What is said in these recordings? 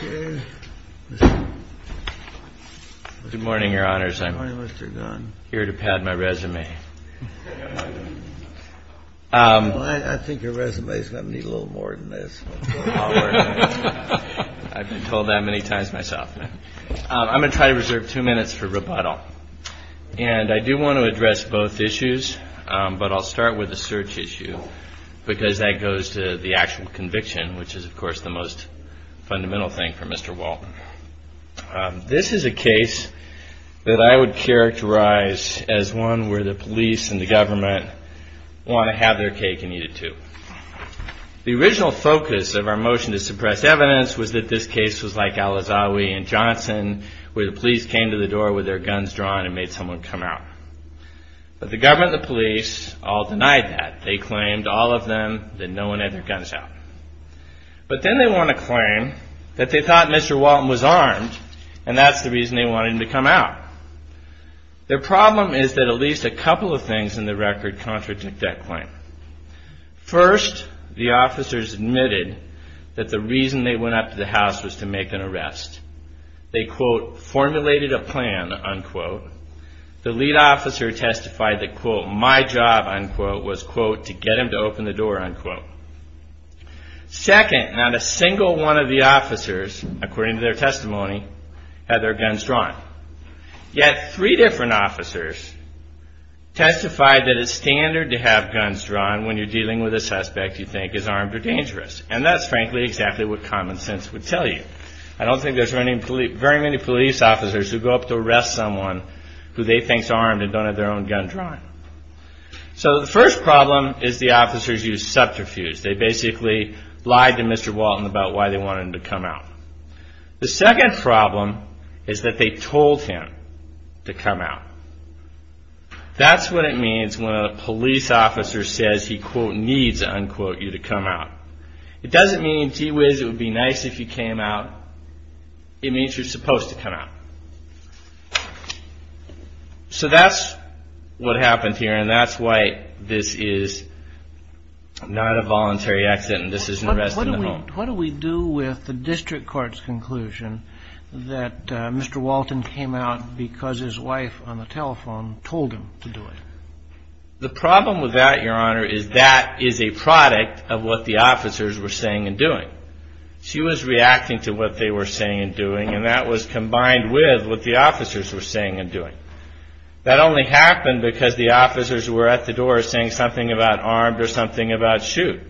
Good morning, Your Honors. I'm here to pad my resume. I think your resume's going to need a little more than this. I've been told that many times myself. I'm going to try to reserve two minutes for rebuttal. And I do want to address both issues, but I'll start with the search issue, because that goes to the actual conviction, which is, of course, the most fundamental thing for Mr. Walton. This is a case that I would characterize as one where the police and the government want to have their cake and eat it, too. The original focus of our motion to suppress evidence was that this case was like Alazawi and Johnson, where the police came to the door with their guns drawn and made someone come out. But the government and the police all denied that. They claimed, all of them, that no one had their guns out. But then they want to claim that they thought Mr. Walton was armed, and that's the reason they wanted him to come out. Their problem is that at least a couple of things in the record contradict that claim. First, the officers admitted that the reason they went up to the house was to make an arrest. They, quote, formulated a plan, unquote. The get him to open the door, unquote. Second, not a single one of the officers, according to their testimony, had their guns drawn. Yet three different officers testified that it's standard to have guns drawn when you're dealing with a suspect you think is armed or dangerous. And that's, frankly, exactly what common sense would tell you. I don't think there's very many police officers who go up to arrest someone who they think is armed. So the first problem is the officers use subterfuge. They basically lied to Mr. Walton about why they wanted him to come out. The second problem is that they told him to come out. That's what it means when a police officer says he, quote, needs, unquote, you to come out. It doesn't mean, gee whiz, it would be nice if you came out. It means you're supposed to come out. So that's what happened here, and that's why this is not a voluntary accident. This is an arrest in the home. What do we do with the district court's conclusion that Mr. Walton came out because his wife on the telephone told him to do it? The problem with that, Your Honor, is that is a product of what the officers were saying and doing. She was reacting to what they were saying and doing, and that was combined with what the officers were saying and doing. That only happened because the officers were at the door saying something about armed or something about shoot.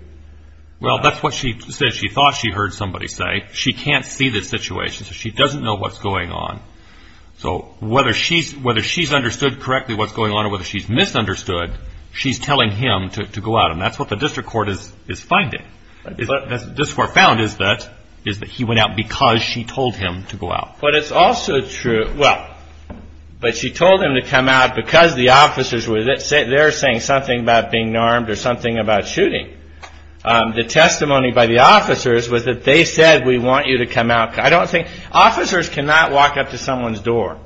Well, that's what she said. She thought she heard somebody say. She can't see the situation, so she doesn't know what's going on. So whether she's understood correctly what's going on or whether she's misunderstood, she's telling him to go out, and that's what the district court is finding. What the district court found is that he went out because she told him to go out. But it's also true, well, but she told him to come out because the officers were there saying something about being armed or something about shooting. The testimony by the officers was that they said, we want you to come out. I don't think, officers cannot walk up to someone's door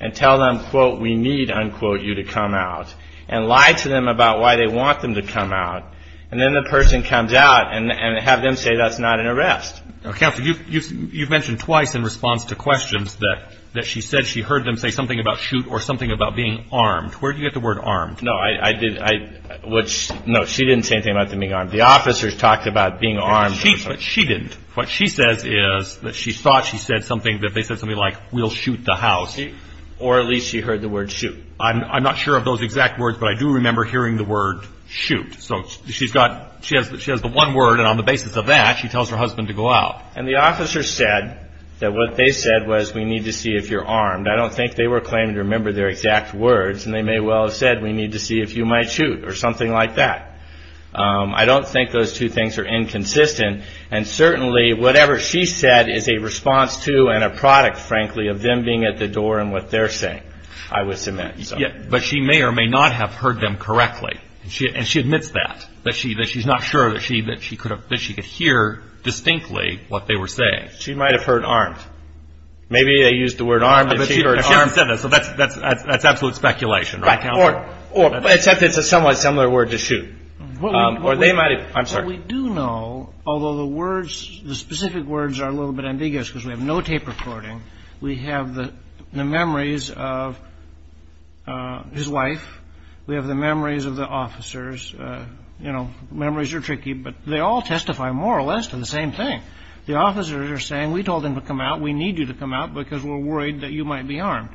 and tell them, quote, we need, unquote, you to come out, and lie to them about why they want them to come out, and then the person comes out and have them say that's not an arrest. Now, Counselor, you've mentioned twice in response to questions that she said she heard them say something about shoot or something about being armed. Where did you get the word armed? No, I did, I, which, no, she didn't say anything about them being armed. The officers talked about being armed. She, but she didn't. What she says is that she thought she said something, that they said something like, we'll shoot the house. Or at least she heard the word shoot. I'm not sure of those exact words, but I do remember hearing the word shoot. So she's got, she has the one word, and on the basis of that, she tells her husband to go out. And the officers said that what they said was, we need to see if you're armed. I don't think they were claiming to remember their exact words, and they may well have said, we need to see if you might shoot or something like that. I don't think those two things are inconsistent, and certainly, whatever she said is a response to and a product, frankly, of them being at the door and what they're saying, I would submit. Yeah, but she may or may not have heard them correctly. And she admits that, that she's not sure that she could hear distinctly what they were saying. She might have heard armed. Maybe they used the word armed and she heard armed. But she hadn't said that, so that's absolute speculation, right? Or, except it's a somewhat similar word to shoot. Or they might have, I'm sorry. What we do know, although the words, the specific words are a little bit ambiguous, because we have no tape recording. We have the memories of his wife. We have the memories of the officers. You know, memories are tricky, but they all testify, more or less, to the same thing. The officers are saying, we told him to come out. We need you to come out because we're worried that you might be armed.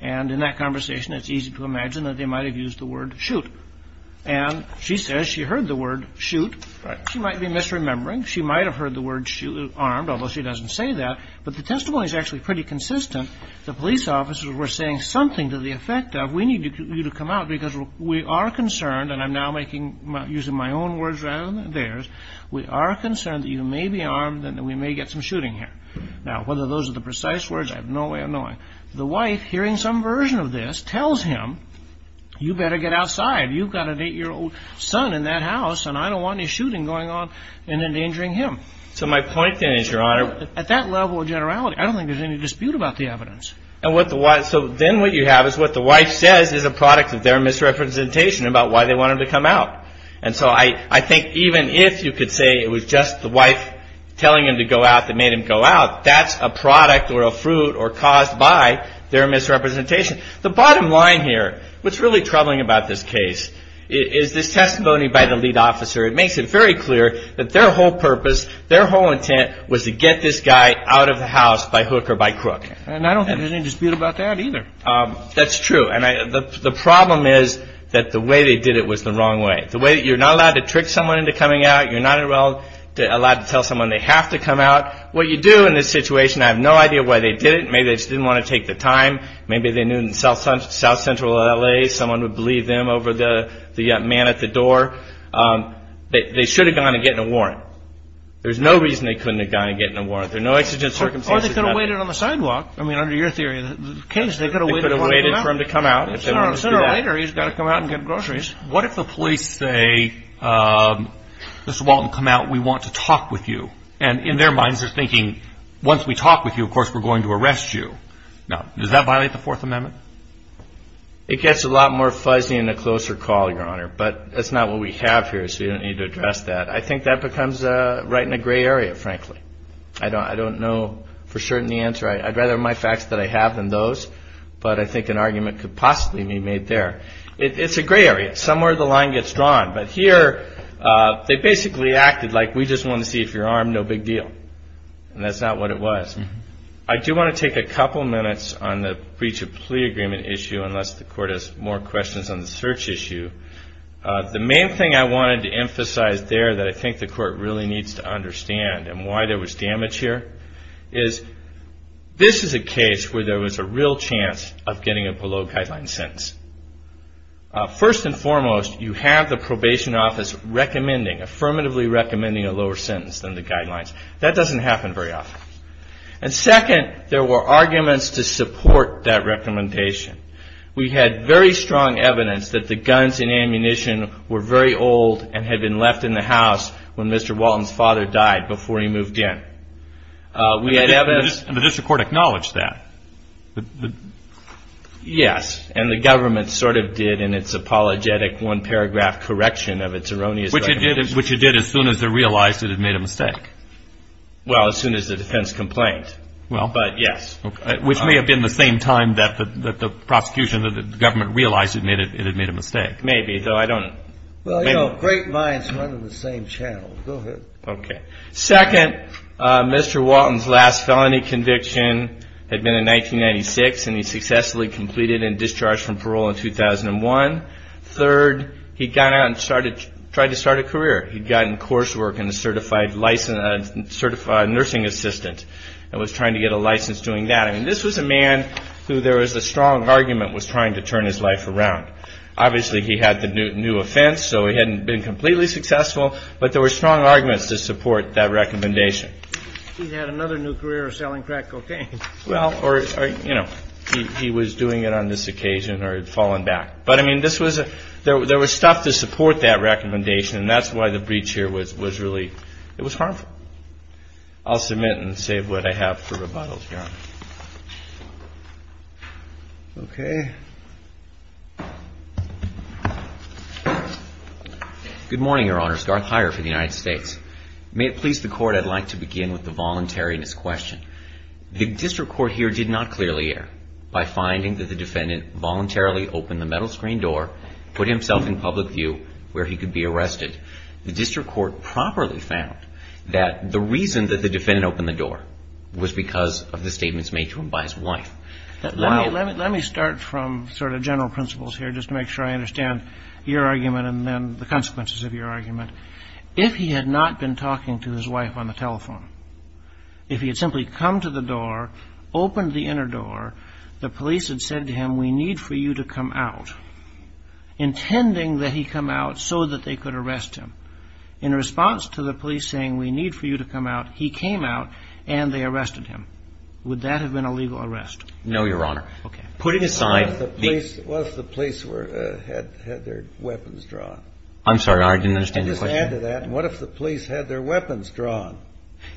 And in that conversation, it's easy to imagine that they might have used the word shoot. And she says she heard the word shoot. She might be misremembering. She might have heard the word armed, although she doesn't say that. But the testimony is actually pretty consistent. The police officers were saying something to the effect of, we need you to come out because we are concerned. And I'm now making, using my own words rather than theirs. We are concerned that you may be armed and that we may get some shooting here. Now, whether those are the precise words, I have no way of knowing. The wife, hearing some version of this, tells him, you better get outside. You've got an eight-year-old son in that house and I don't want any shooting going on and endangering him. So my point then is, Your Honor, at that level of generality, I don't think there's any dispute about the evidence. And what the wife, so then what you have is what the wife says is a product of their misrepresentation about why they want him to come out. And so I think even if you could say it was just the wife telling him to go out that made him go out, that's a product or a fruit or caused by their misrepresentation. The bottom line here, what's really troubling about this case is this testimony by the lead It makes it very clear that their whole purpose, their whole intent was to get this guy out of the house by hook or by crook. And I don't have any dispute about that either. That's true. And the problem is that the way they did it was the wrong way. The way you're not allowed to trick someone into coming out, you're not allowed to tell someone they have to come out. What you do in this situation, I have no idea why they did it. Maybe they just didn't want to take the time. Maybe they knew in South Central L.A. someone would believe them over the man at the door. They should have gone and gotten a warrant. There's no reason they couldn't have gone and gotten a warrant. There are no exigent circumstances. Or they could have waited on the sidewalk. I mean, under your theory of the case, they could have waited for him to come out. They could have waited for him to come out. Sooner or later, he's got to come out and get groceries. What if the police say, Mr. Walton, come out, we want to talk with you. And in their minds they're thinking, once we talk with you, of course, we're going to arrest you. Now, does that violate the Fourth Amendment? It gets a lot more fuzzy in a closer call, Your Honor. But that's not what we have here, so you don't need to address that. I think that becomes right in a gray area, frankly. I don't know for certain the answer. I'd rather my facts that I have than those. But I think an argument could possibly be made there. It's a gray area. Somewhere the line gets drawn. But here, they basically acted like we just want to see if you're armed, no big deal. And that's not what it was. I do want to take a couple minutes on the breach of plea agreement issue, unless the Court has more questions on the search issue. The main thing I wanted to emphasize there that I think the Court really needs to understand, and why there was damage here, is this is a case where there was a real chance of getting a below-guideline sentence. First and foremost, you have the Probation Office affirmatively recommending a lower sentence than the guidelines. That doesn't happen very often. And second, there were arguments to support that recommendation. We had very strong evidence that the guns and ammunition were very old and had been left in the house when Mr. Walton's father died before he moved in. And the District Court acknowledged that? Yes. And the government sort of did in its apologetic one-paragraph correction of its erroneous recommendation. Which it did as soon as they realized it had made a mistake. Well, as soon as the defense complained. But yes. Which may have been the same time that the prosecution, that the government realized it had made a mistake. Maybe, though I don't know. Great minds run in the same channel. Go ahead. Second, Mr. Walton's last felony conviction had been in 1996, and he successfully completed and discharged from parole in 2001. Third, he got out and tried to start a career. He got in coursework and a certified nursing assistant and was trying to get a license doing that. I mean, this was a man who there was a strong argument was trying to turn his life around. Obviously, he had the new offense, so he hadn't been completely successful. But there were strong arguments to support that recommendation. He had another new career of selling crack cocaine. Well, or, you know, he was doing it on this occasion or had fallen back. But, I mean, this was a, there was stuff to support that recommendation, and that's why the breach here was really, it was harmful. I'll submit and save what I have for rebuttals, Your Honor. Okay. Good morning, Your Honors. Garth Heyer for the United States. May it please the Court, I'd like to begin with the voluntariness question. The district court here did not clearly err by finding that the defendant voluntarily opened the metal screen door, put himself in public view where he could be arrested. The district court properly found that the reason that the defendant opened the door was because of the statements made to him by his wife. Let me start from sort of general principles here just to make sure I understand your argument and then the consequences of your argument. If he had not been talking to his wife on the telephone, if he had simply come to the door, opened the inner door, the police had said to him, we need for you to come out, intending that he come out so that they could arrest him. In response to the police saying, we need for you to come out, he came out and they arrested him. Would that have been a legal arrest? No, Your Honor. Okay. Putting aside the- What if the police were, had their weapons drawn? I'm sorry, I didn't understand your question. Add to that, what if the police had their weapons drawn?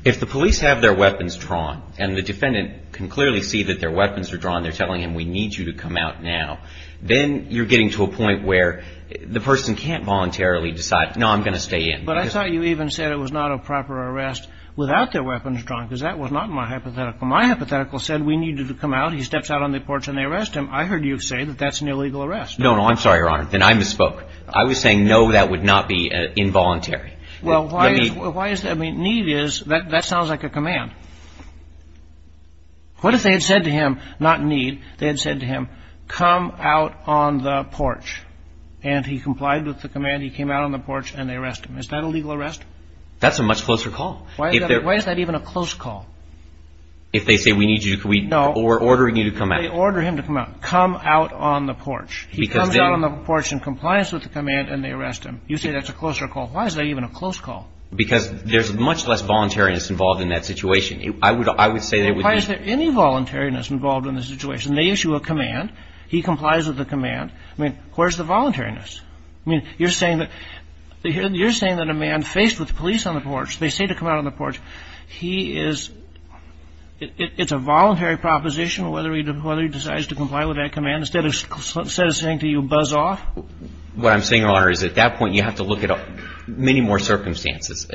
If the police have their weapons drawn and the defendant can clearly see that their weapons are drawn, they're telling him, we need you to come out now. Then you're getting to a point where the person can't voluntarily decide, no, I'm going to stay in. But I thought you even said it was not a proper arrest without their weapons drawn, because that was not my hypothetical. My hypothetical said we needed to come out, he steps out on the porch and they arrest him. I heard you say that that's an illegal arrest. No, no, I'm sorry, Your Honor, then I misspoke. I was saying, no, that would not be involuntary. Well, why is that? I mean, need is, that sounds like a command. What if they had said to him, not need, they had said to him, come out on the porch. And he complied with the command, he came out on the porch, and they arrest him. Is that a legal arrest? That's a much closer call. Why is that even a close call? If they say we need you, we're ordering you to come out. They order him to come out, come out on the porch. He comes out on the porch in compliance with the command, and they arrest him. You say that's a closer call. Why is that even a close call? Because there's much less voluntariness involved in that situation. I would say there would be- Why is there any voluntariness involved in this situation? They issue a command, he complies with the command. I mean, where's the voluntariness? I mean, you're saying that a man faced with police on the porch, they say to come out on the porch, he is, it's a voluntary proposition, whether he decides to comply with that command, instead of saying to you, buzz off? What I'm saying, Your Honor, is at that point, you have to look at many more circumstances.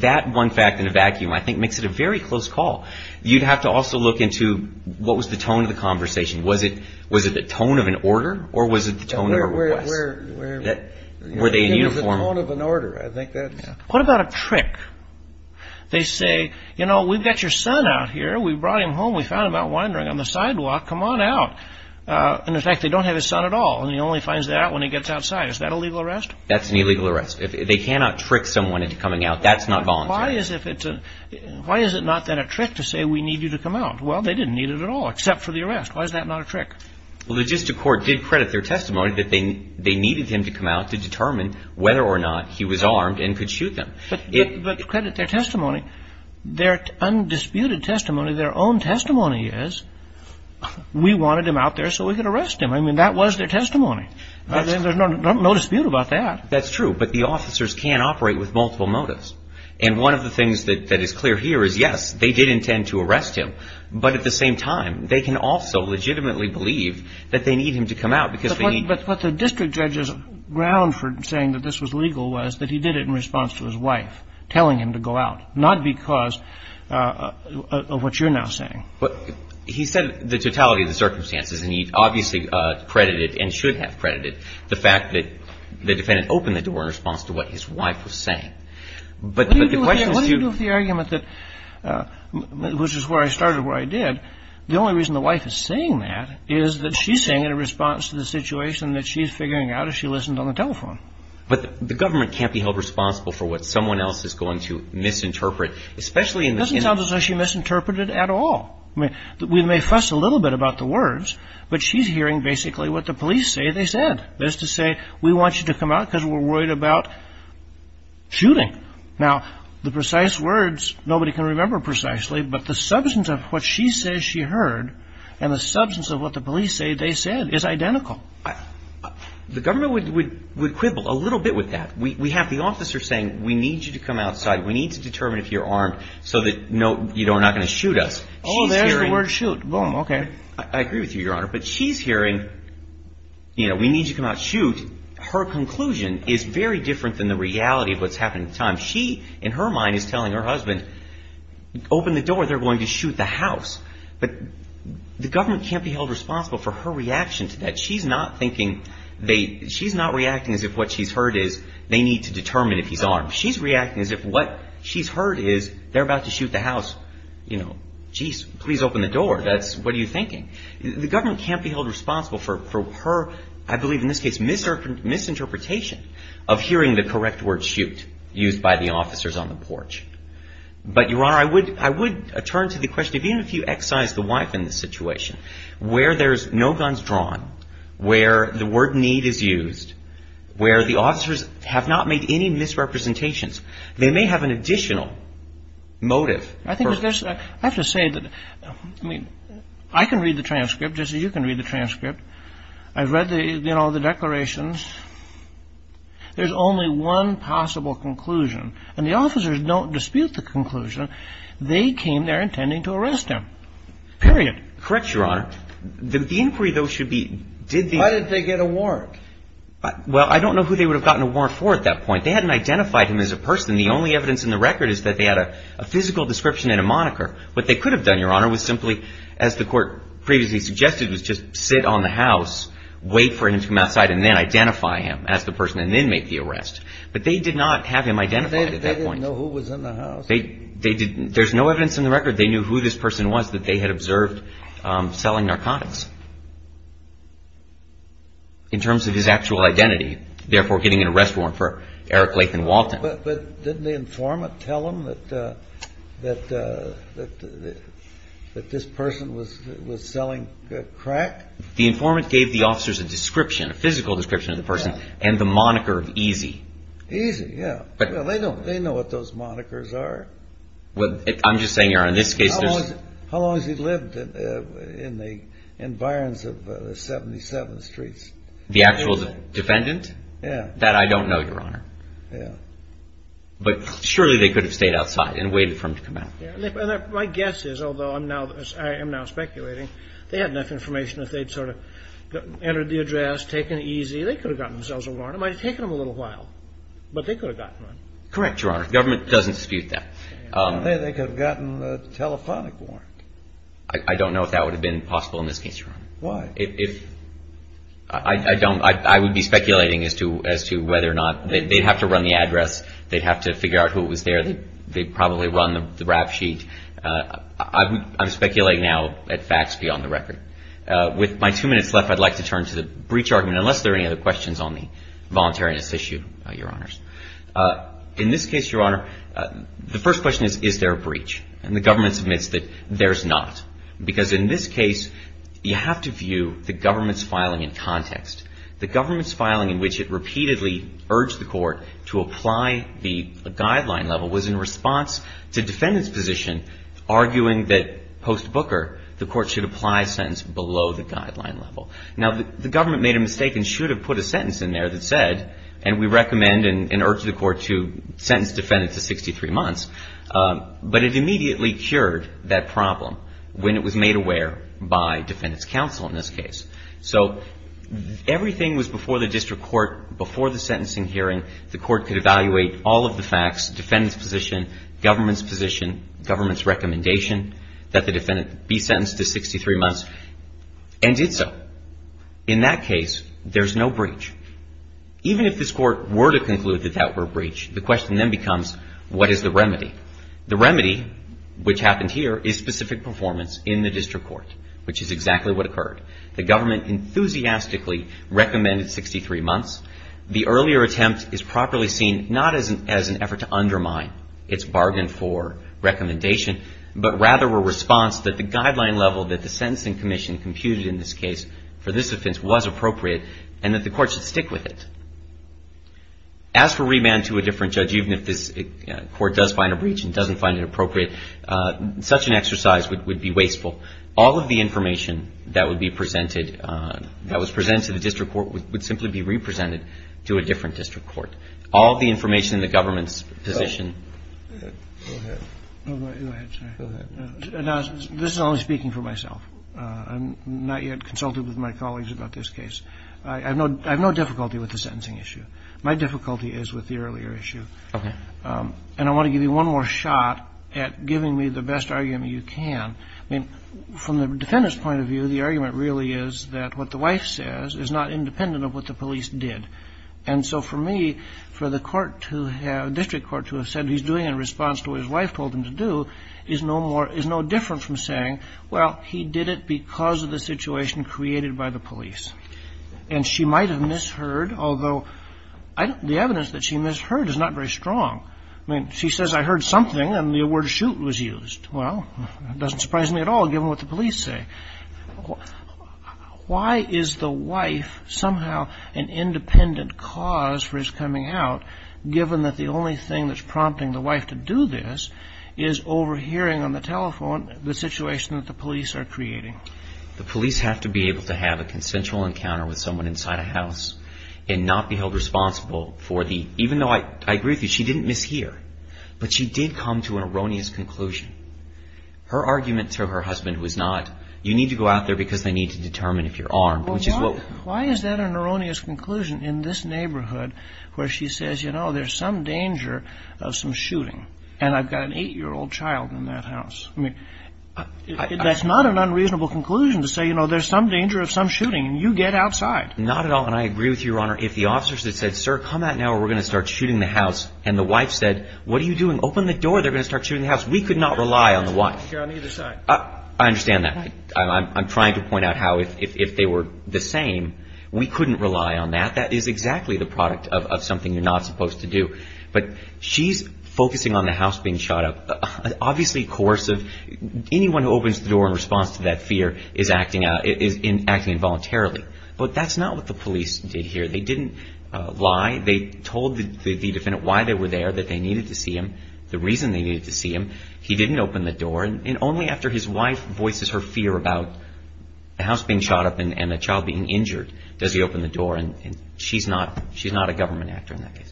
That one fact in a vacuum, I think, makes it a very close call. You'd have to also look into what was the tone of the conversation. Was it the tone of an order, or was it the tone of a request? Were they in uniform? The tone of an order, I think that's- What about a trick? They say, you know, we've got your son out here, we brought him home, we found him out wandering on the sidewalk, come on out. And in fact, they don't have his son at all, and he only finds that out when he gets outside. Is that a legal arrest? That's an illegal arrest. They cannot trick someone into coming out. That's not voluntary. Why is it not then a trick to say, we need you to come out? Well, they didn't need it at all, except for the arrest. Why is that not a trick? Well, the logistic court did credit their testimony that they needed him to come out to determine whether or not he was armed and could shoot them. But credit their testimony. Their undisputed testimony, their own testimony is, we wanted him out there so we could arrest him. I mean, that was their testimony. There's no dispute about that. That's true. But the officers can't operate with multiple motives. And one of the things that is clear here is, yes, they did intend to arrest him. But at the same time, they can also legitimately believe that they need him to come out because they need- But the district judge's ground for saying that this was legal was that he did it in response to his wife telling him to go out, not because of what you're now saying. But he said the totality of the circumstances, and he obviously credited and should have credited the fact that the defendant opened the door in response to what his wife was saying. But the question is- What do you do with the argument that, which is where I started, where I did, the only reason the wife is saying that is that she's saying it in response to the situation that she's figuring out as she listened on the telephone. But the government can't be held responsible for what someone else is going to misinterpret, especially in- Doesn't sound as though she misinterpreted at all. I mean, we may fuss a little bit about the words, but she's hearing basically what the police say they said. That is to say, we want you to come out because we're worried about shooting. Now, the precise words, nobody can remember precisely, but the substance of what she says she heard and the substance of what the police say they said is identical. The government would quibble a little bit with that. We have the officer saying, we need you to come outside. We need to determine if you're armed so that you're not going to shoot us. Oh, there's the word shoot. Boom. Okay. I agree with you, Your Honor. But she's hearing, you know, we need you to come out and shoot. Her conclusion is very different than the reality of what's happening at the time. She, in her mind, is telling her husband, open the door, they're going to shoot the house. But the government can't be held responsible for her reaction to that. She's not thinking, she's not reacting as if what she's heard is they need to determine if he's armed. She's reacting as if what she's heard is they're about to shoot the house. You know, geez, please open the door. That's, what are you thinking? The government can't be held responsible for her, I believe in this case, misinterpretation of hearing the correct word shoot used by the officers on the porch. But, Your Honor, I would turn to the question, even if you excise the wife in this situation, where there's no guns drawn, where the word need is used, where the officers have not made any misrepresentations, they may have an additional motive. I think there's, I have to say that, I mean, I can read the transcript just as you can read the transcript. I've read the, you know, the declarations. There's only one possible conclusion. And the officers don't dispute the conclusion. They came there intending to arrest him. Period. Correct, Your Honor. The inquiry, though, should be, did they? Why did they get a warrant? Well, I don't know who they would have gotten a warrant for at that point. They hadn't identified him as a person. The only evidence in the record is that they had a physical description and a moniker. What they could have done, Your Honor, was simply, as the court previously suggested, was just sit on the house, wait for him to come outside, and then identify him as the person, and then make the arrest. But they did not have him identified at that point. They didn't. There's no evidence in the record. They knew who this person was, that they had observed selling narcotics. In terms of his actual identity, therefore getting an arrest warrant for Eric Latham Walton. But didn't the informant tell them that this person was selling crack? The informant gave the officers a description, a physical description of the person, and the moniker of Easy. Easy, yeah. Well, they know what those monikers are. What I'm just saying, Your Honor, in this case there's... How long has he lived in the environs of 77th Street? The actual defendant? Yeah. That I don't know, Your Honor. Yeah. But surely they could have stayed outside and waited for him to come out. My guess is, although I am now speculating, they had enough information that they'd sort of entered the address, taken Easy. They could have gotten themselves a warrant. It might have taken them a little while, but they could have gotten one. Correct, Your Honor. The government doesn't dispute that. They could have gotten a telephonic warrant. I don't know if that would have been possible in this case, Your Honor. Why? If... I don't... I would be speculating as to whether or not they'd have to run the address, they'd have to figure out who was there, they'd probably run the rap sheet. I'm speculating now at facts beyond the record. With my two minutes left, I'd like to turn to the breach argument, unless there are any other questions on the voluntariness issue, Your Honors. In this case, Your Honor, the first question is, is there a breach? And the government admits that there's not. Because in this case, you have to view the government's filing in context. The government's filing in which it repeatedly urged the court to apply the guideline level was in response to defendants' position arguing that post Booker, the court should apply a sentence below the guideline level. Now, the government made a mistake and should have put a sentence in there that said, and we recommend and urge the court to sentence defendant to 63 months. But it immediately cured that problem when it was made aware by defendants' counsel in this case. So, everything was before the district court, before the sentencing hearing, the court could evaluate all of the facts, defendant's position, government's position, government's recommendation, that the defendant be sentenced to 63 months, and did so. In that case, there's no breach. Even if this court were to conclude that that were a breach, the question then becomes, what is the remedy? The remedy, which happened here, is specific performance in the district court, which is exactly what occurred. The government enthusiastically recommended 63 months. The earlier attempt is properly seen not as an effort to undermine its bargain for recommendation, but rather a response that the guideline level that the sentencing commission computed in this case for this offense was appropriate, and that the court should stick with it. As for remand to a different judge, even if this court does find a breach and doesn't find it appropriate, such an exercise would be wasteful. All of the information that would be presented, that was presented to the district court, would simply be re-presented to a different district court. All of the information in the government's position. Go ahead. Go ahead. Go ahead. Now, this is only speaking for myself. I'm not yet consulted with my colleagues about this case. I have no difficulty with the sentencing issue. My difficulty is with the earlier issue. Okay. And I want to give you one more shot at giving me the best argument you can. I mean, from the defendant's point of view, the argument really is that what the wife says is not independent of what the police did. And so for me, for the court to have, district court to have said he's doing in response to what his wife told him to do, is no more, is no different from saying, well, he did it because of the situation created by the police. And she might have misheard, although the evidence that she misheard is not very strong. I mean, she says I heard something, and the word shoot was used. Well, it doesn't surprise me at all, given what the police say. Why is the wife somehow an independent cause for his coming out, given that the only thing that's prompting the wife to do this is overhearing on the telephone the situation that the police are creating? The police have to be able to have a consensual encounter with someone inside a house and not be held responsible for the, even though I agree with you, she didn't mishear. But she did come to an erroneous conclusion. Her argument to her husband was not, you need to go out there because they need to determine if you're armed, which is what... Why is that an erroneous conclusion in this neighborhood where she says, you know, there's some danger of some shooting, and I've got an eight-year-old child in that house? I mean, that's not an unreasonable conclusion to say, you know, there's some danger of some shooting, and you get outside. Not at all, and I agree with you, Your Honor. If the officers had said, sir, come out now or we're going to start shooting the house, and the wife said, what are you doing? Open the door, they're going to start shooting the house. We could not rely on the wife. You're on either side. I understand that. I'm trying to point out how, if they were the same, we couldn't rely on that. That is exactly the product of something you're not supposed to do. But she's focusing on the house being shot up. Obviously, coercive. Anyone who opens the door in response to that fear is acting involuntarily. But that's not what the police did here. They didn't lie. They told the defendant why they were there, that they needed to see him, the reason they needed to see him. He didn't open the door, and only after his wife voices her fear about the house being shot up and a child being injured does he open the door, and she's not a government actor in that case.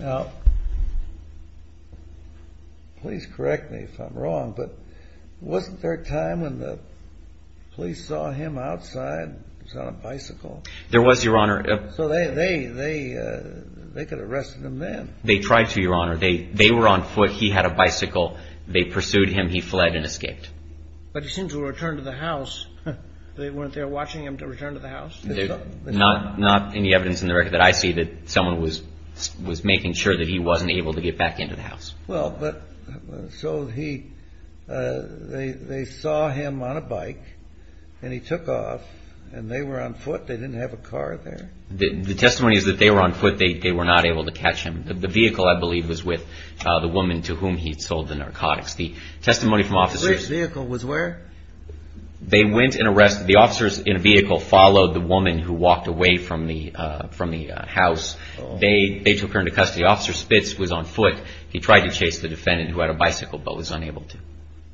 Now, please correct me if I'm wrong, but wasn't there a time when the police saw him outside? He was on a bicycle. There was, Your Honor. So they could have arrested him then. They tried to, Your Honor. They were on foot. He had a bicycle. They pursued him. He fled and escaped. But he seemed to have returned to the house. They weren't there watching him to return to the house? Not any evidence in the record that I see that someone was making sure that he wasn't able to get back into the house. Well, but so they saw him on a bike, and he took off, and they were on foot. They didn't have a car there? The testimony is that they were on foot. They were not able to catch him. The vehicle, I believe, was with the woman to whom he had sold the narcotics. The testimony from officers... Which vehicle was where? They went and arrested... The officers in a vehicle followed the woman who walked away from the house. They took her into custody. Officer Spitz was on foot. He tried to chase the defendant who had a bicycle but was unable to.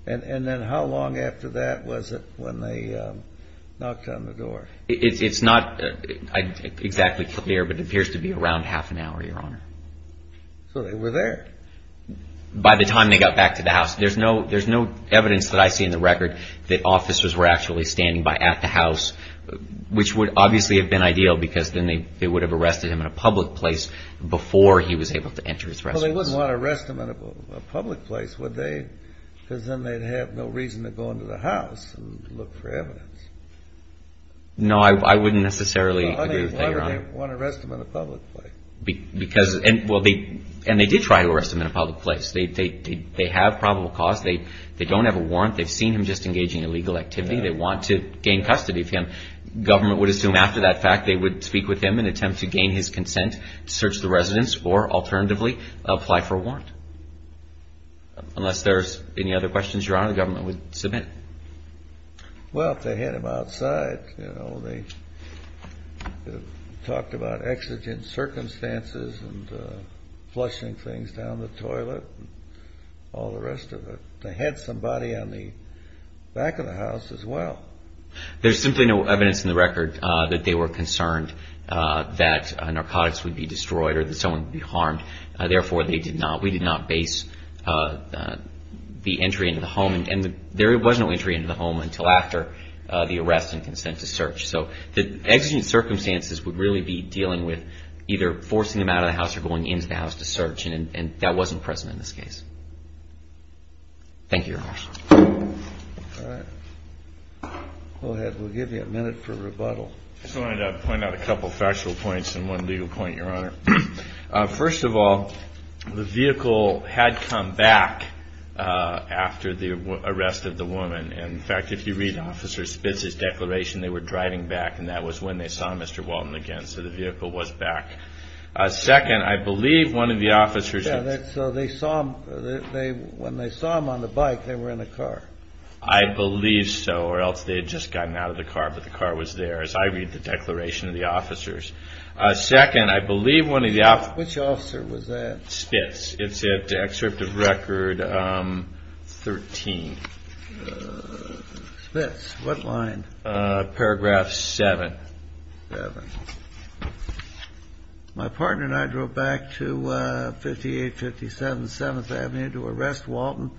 And then how long after that was it when they knocked on the door? It's not exactly clear, but it appears to be around half an hour, Your Honor. So they were there? By the time they got back to the house. There's no evidence that I see in the record that officers were actually standing by at the house, which would obviously have been ideal because then they would have arrested him in a public place before he was able to enter his residence. Well, they wouldn't want to arrest him in a public place, would they? Because then they'd have no reason to go into the house and look for evidence. No, I wouldn't necessarily agree with that, Your Honor. Why would they want to arrest him in a public place? Because... And they did try to arrest him in a public place. They have probable cause. They don't have a warrant. They've seen him just engaging in illegal activity. They want to gain custody of him. Government would assume after that fact they would speak with him in an attempt to gain his consent to search the residence or, alternatively, apply for a warrant. Unless there's any other questions, Your Honor, the government would submit. Well, if they had him outside, you know, they talked about exigent circumstances and flushing things down the toilet and all the rest of it. They had somebody on the back of the house as well. There's simply no evidence in the record that they were concerned that narcotics would be destroyed or that someone would be harmed. Therefore, we did not base the entry into the home. And there was no entry into the home until after the arrest and consent to search. So the exigent circumstances would really be dealing with either forcing him out of the house or going into the house to search. And that wasn't present in this case. Thank you, Your Honor. All right. Go ahead. We'll give you a minute for rebuttal. I just wanted to point out a couple of factual points and one legal point, Your Honor. First of all, the vehicle had come back after the arrest of the woman. And, in fact, if you read Officer Spitz's declaration, they were driving back. And that was when they saw Mr. Walton again. So the vehicle was back. Second, I believe one of the officers. So they saw him. When they saw him on the bike, they were in the car. I believe so. Or else they had just gotten out of the car. But the car was there, as I read the declaration of the officers. Second, I believe one of the officers. Which officer was that? Spitz. It's at Excerpt of Record 13. Spitz. What line? Paragraph 7. 7. My partner and I drove back to 58, 57, 7th Avenue to arrest Walton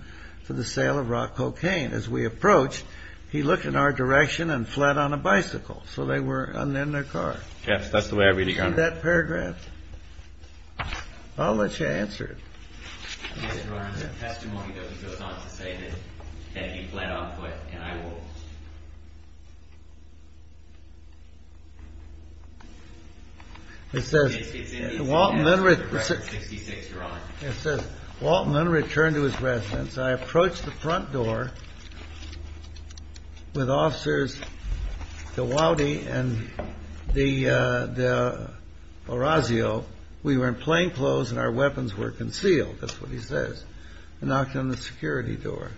for the sale of rock cocaine. As we approached, he looked in our direction and fled on a bicycle. So they were in their car. Yes, that's the way I read it, Your Honor. You see that paragraph? I'll let you answer it. Yes, Your Honor. It's a testimony that he goes on to say that he fled on foot and I walked. It says, Walton then returned to his residence. I approached the front door with officers Gowody and Orazio. We were in plainclothes and our weapons were concealed. That's what he says. I knocked on the security door.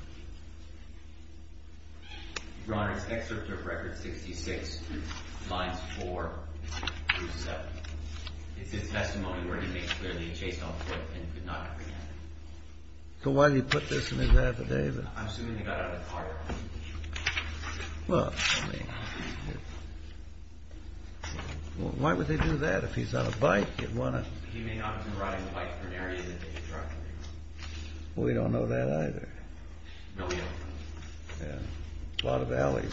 Your Honor, it's Excerpt of Record 66, lines 4 through 7. It's his testimony where he makes it clear that he chased on foot and could not comprehend it. So why did he put this in his affidavit? I'm assuming he got out of the car. Well, I mean, why would they do that? If he's on a bike, he'd want to. He may not have been riding a bike in an area that they tracked. We don't know that either. No, we don't. Yeah. A lot of alleys.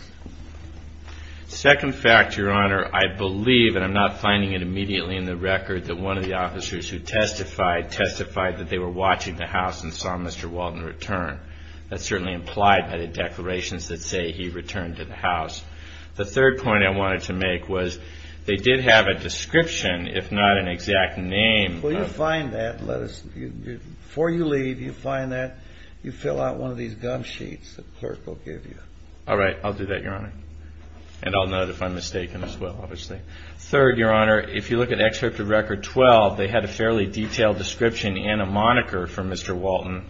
Second fact, Your Honor, I believe, and I'm not finding it immediately in the record, that one of the officers who testified testified that they were watching the house and saw Mr. Walton return. That's certainly implied by the declarations that say he returned to the house. The third point I wanted to make was they did have a description, if not an exact name. Well, you'll find that. Before you leave, you'll find that. You fill out one of these gum sheets the clerk will give you. All right. I'll do that, Your Honor. And I'll note if I'm mistaken as well, obviously. Third, Your Honor, if you look at Excerpt of Record 12, they had a fairly detailed description and a moniker for Mr. Walton.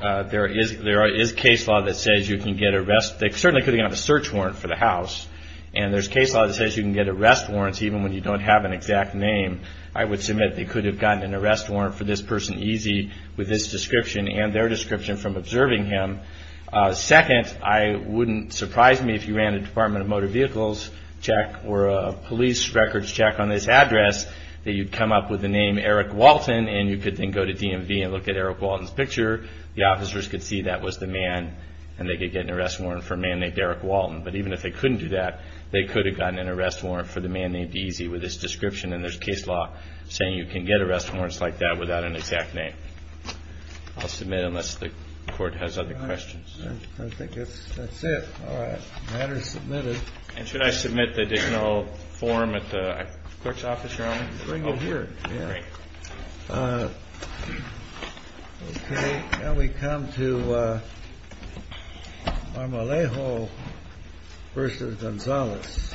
There is case law that says you can get arrest. They certainly could have gotten a search warrant for the house. And there's case law that says you can get arrest warrants even when you don't have an exact name. I would submit they could have gotten an arrest warrant for this person easy with this description and their description from observing him. Second, it wouldn't surprise me if you ran a Department of Motor Vehicles check or a police records check on this address that you'd come up with the name Eric Walton and you could then go to DMV and look at Eric Walton's picture. The officers could see that was the man and they could get an arrest warrant for a man named Eric Walton. But even if they couldn't do that, they could have gotten an arrest warrant for the man named Easy with his description. And there's case law saying you can get arrest warrants like that without an exact name. I'll submit unless the court has other questions. I think that's it. All right. The matter is submitted. And should I submit the additional form at the clerk's office? Bring it here. Great. OK. Now we come to Marmolejo versus Gonzalez.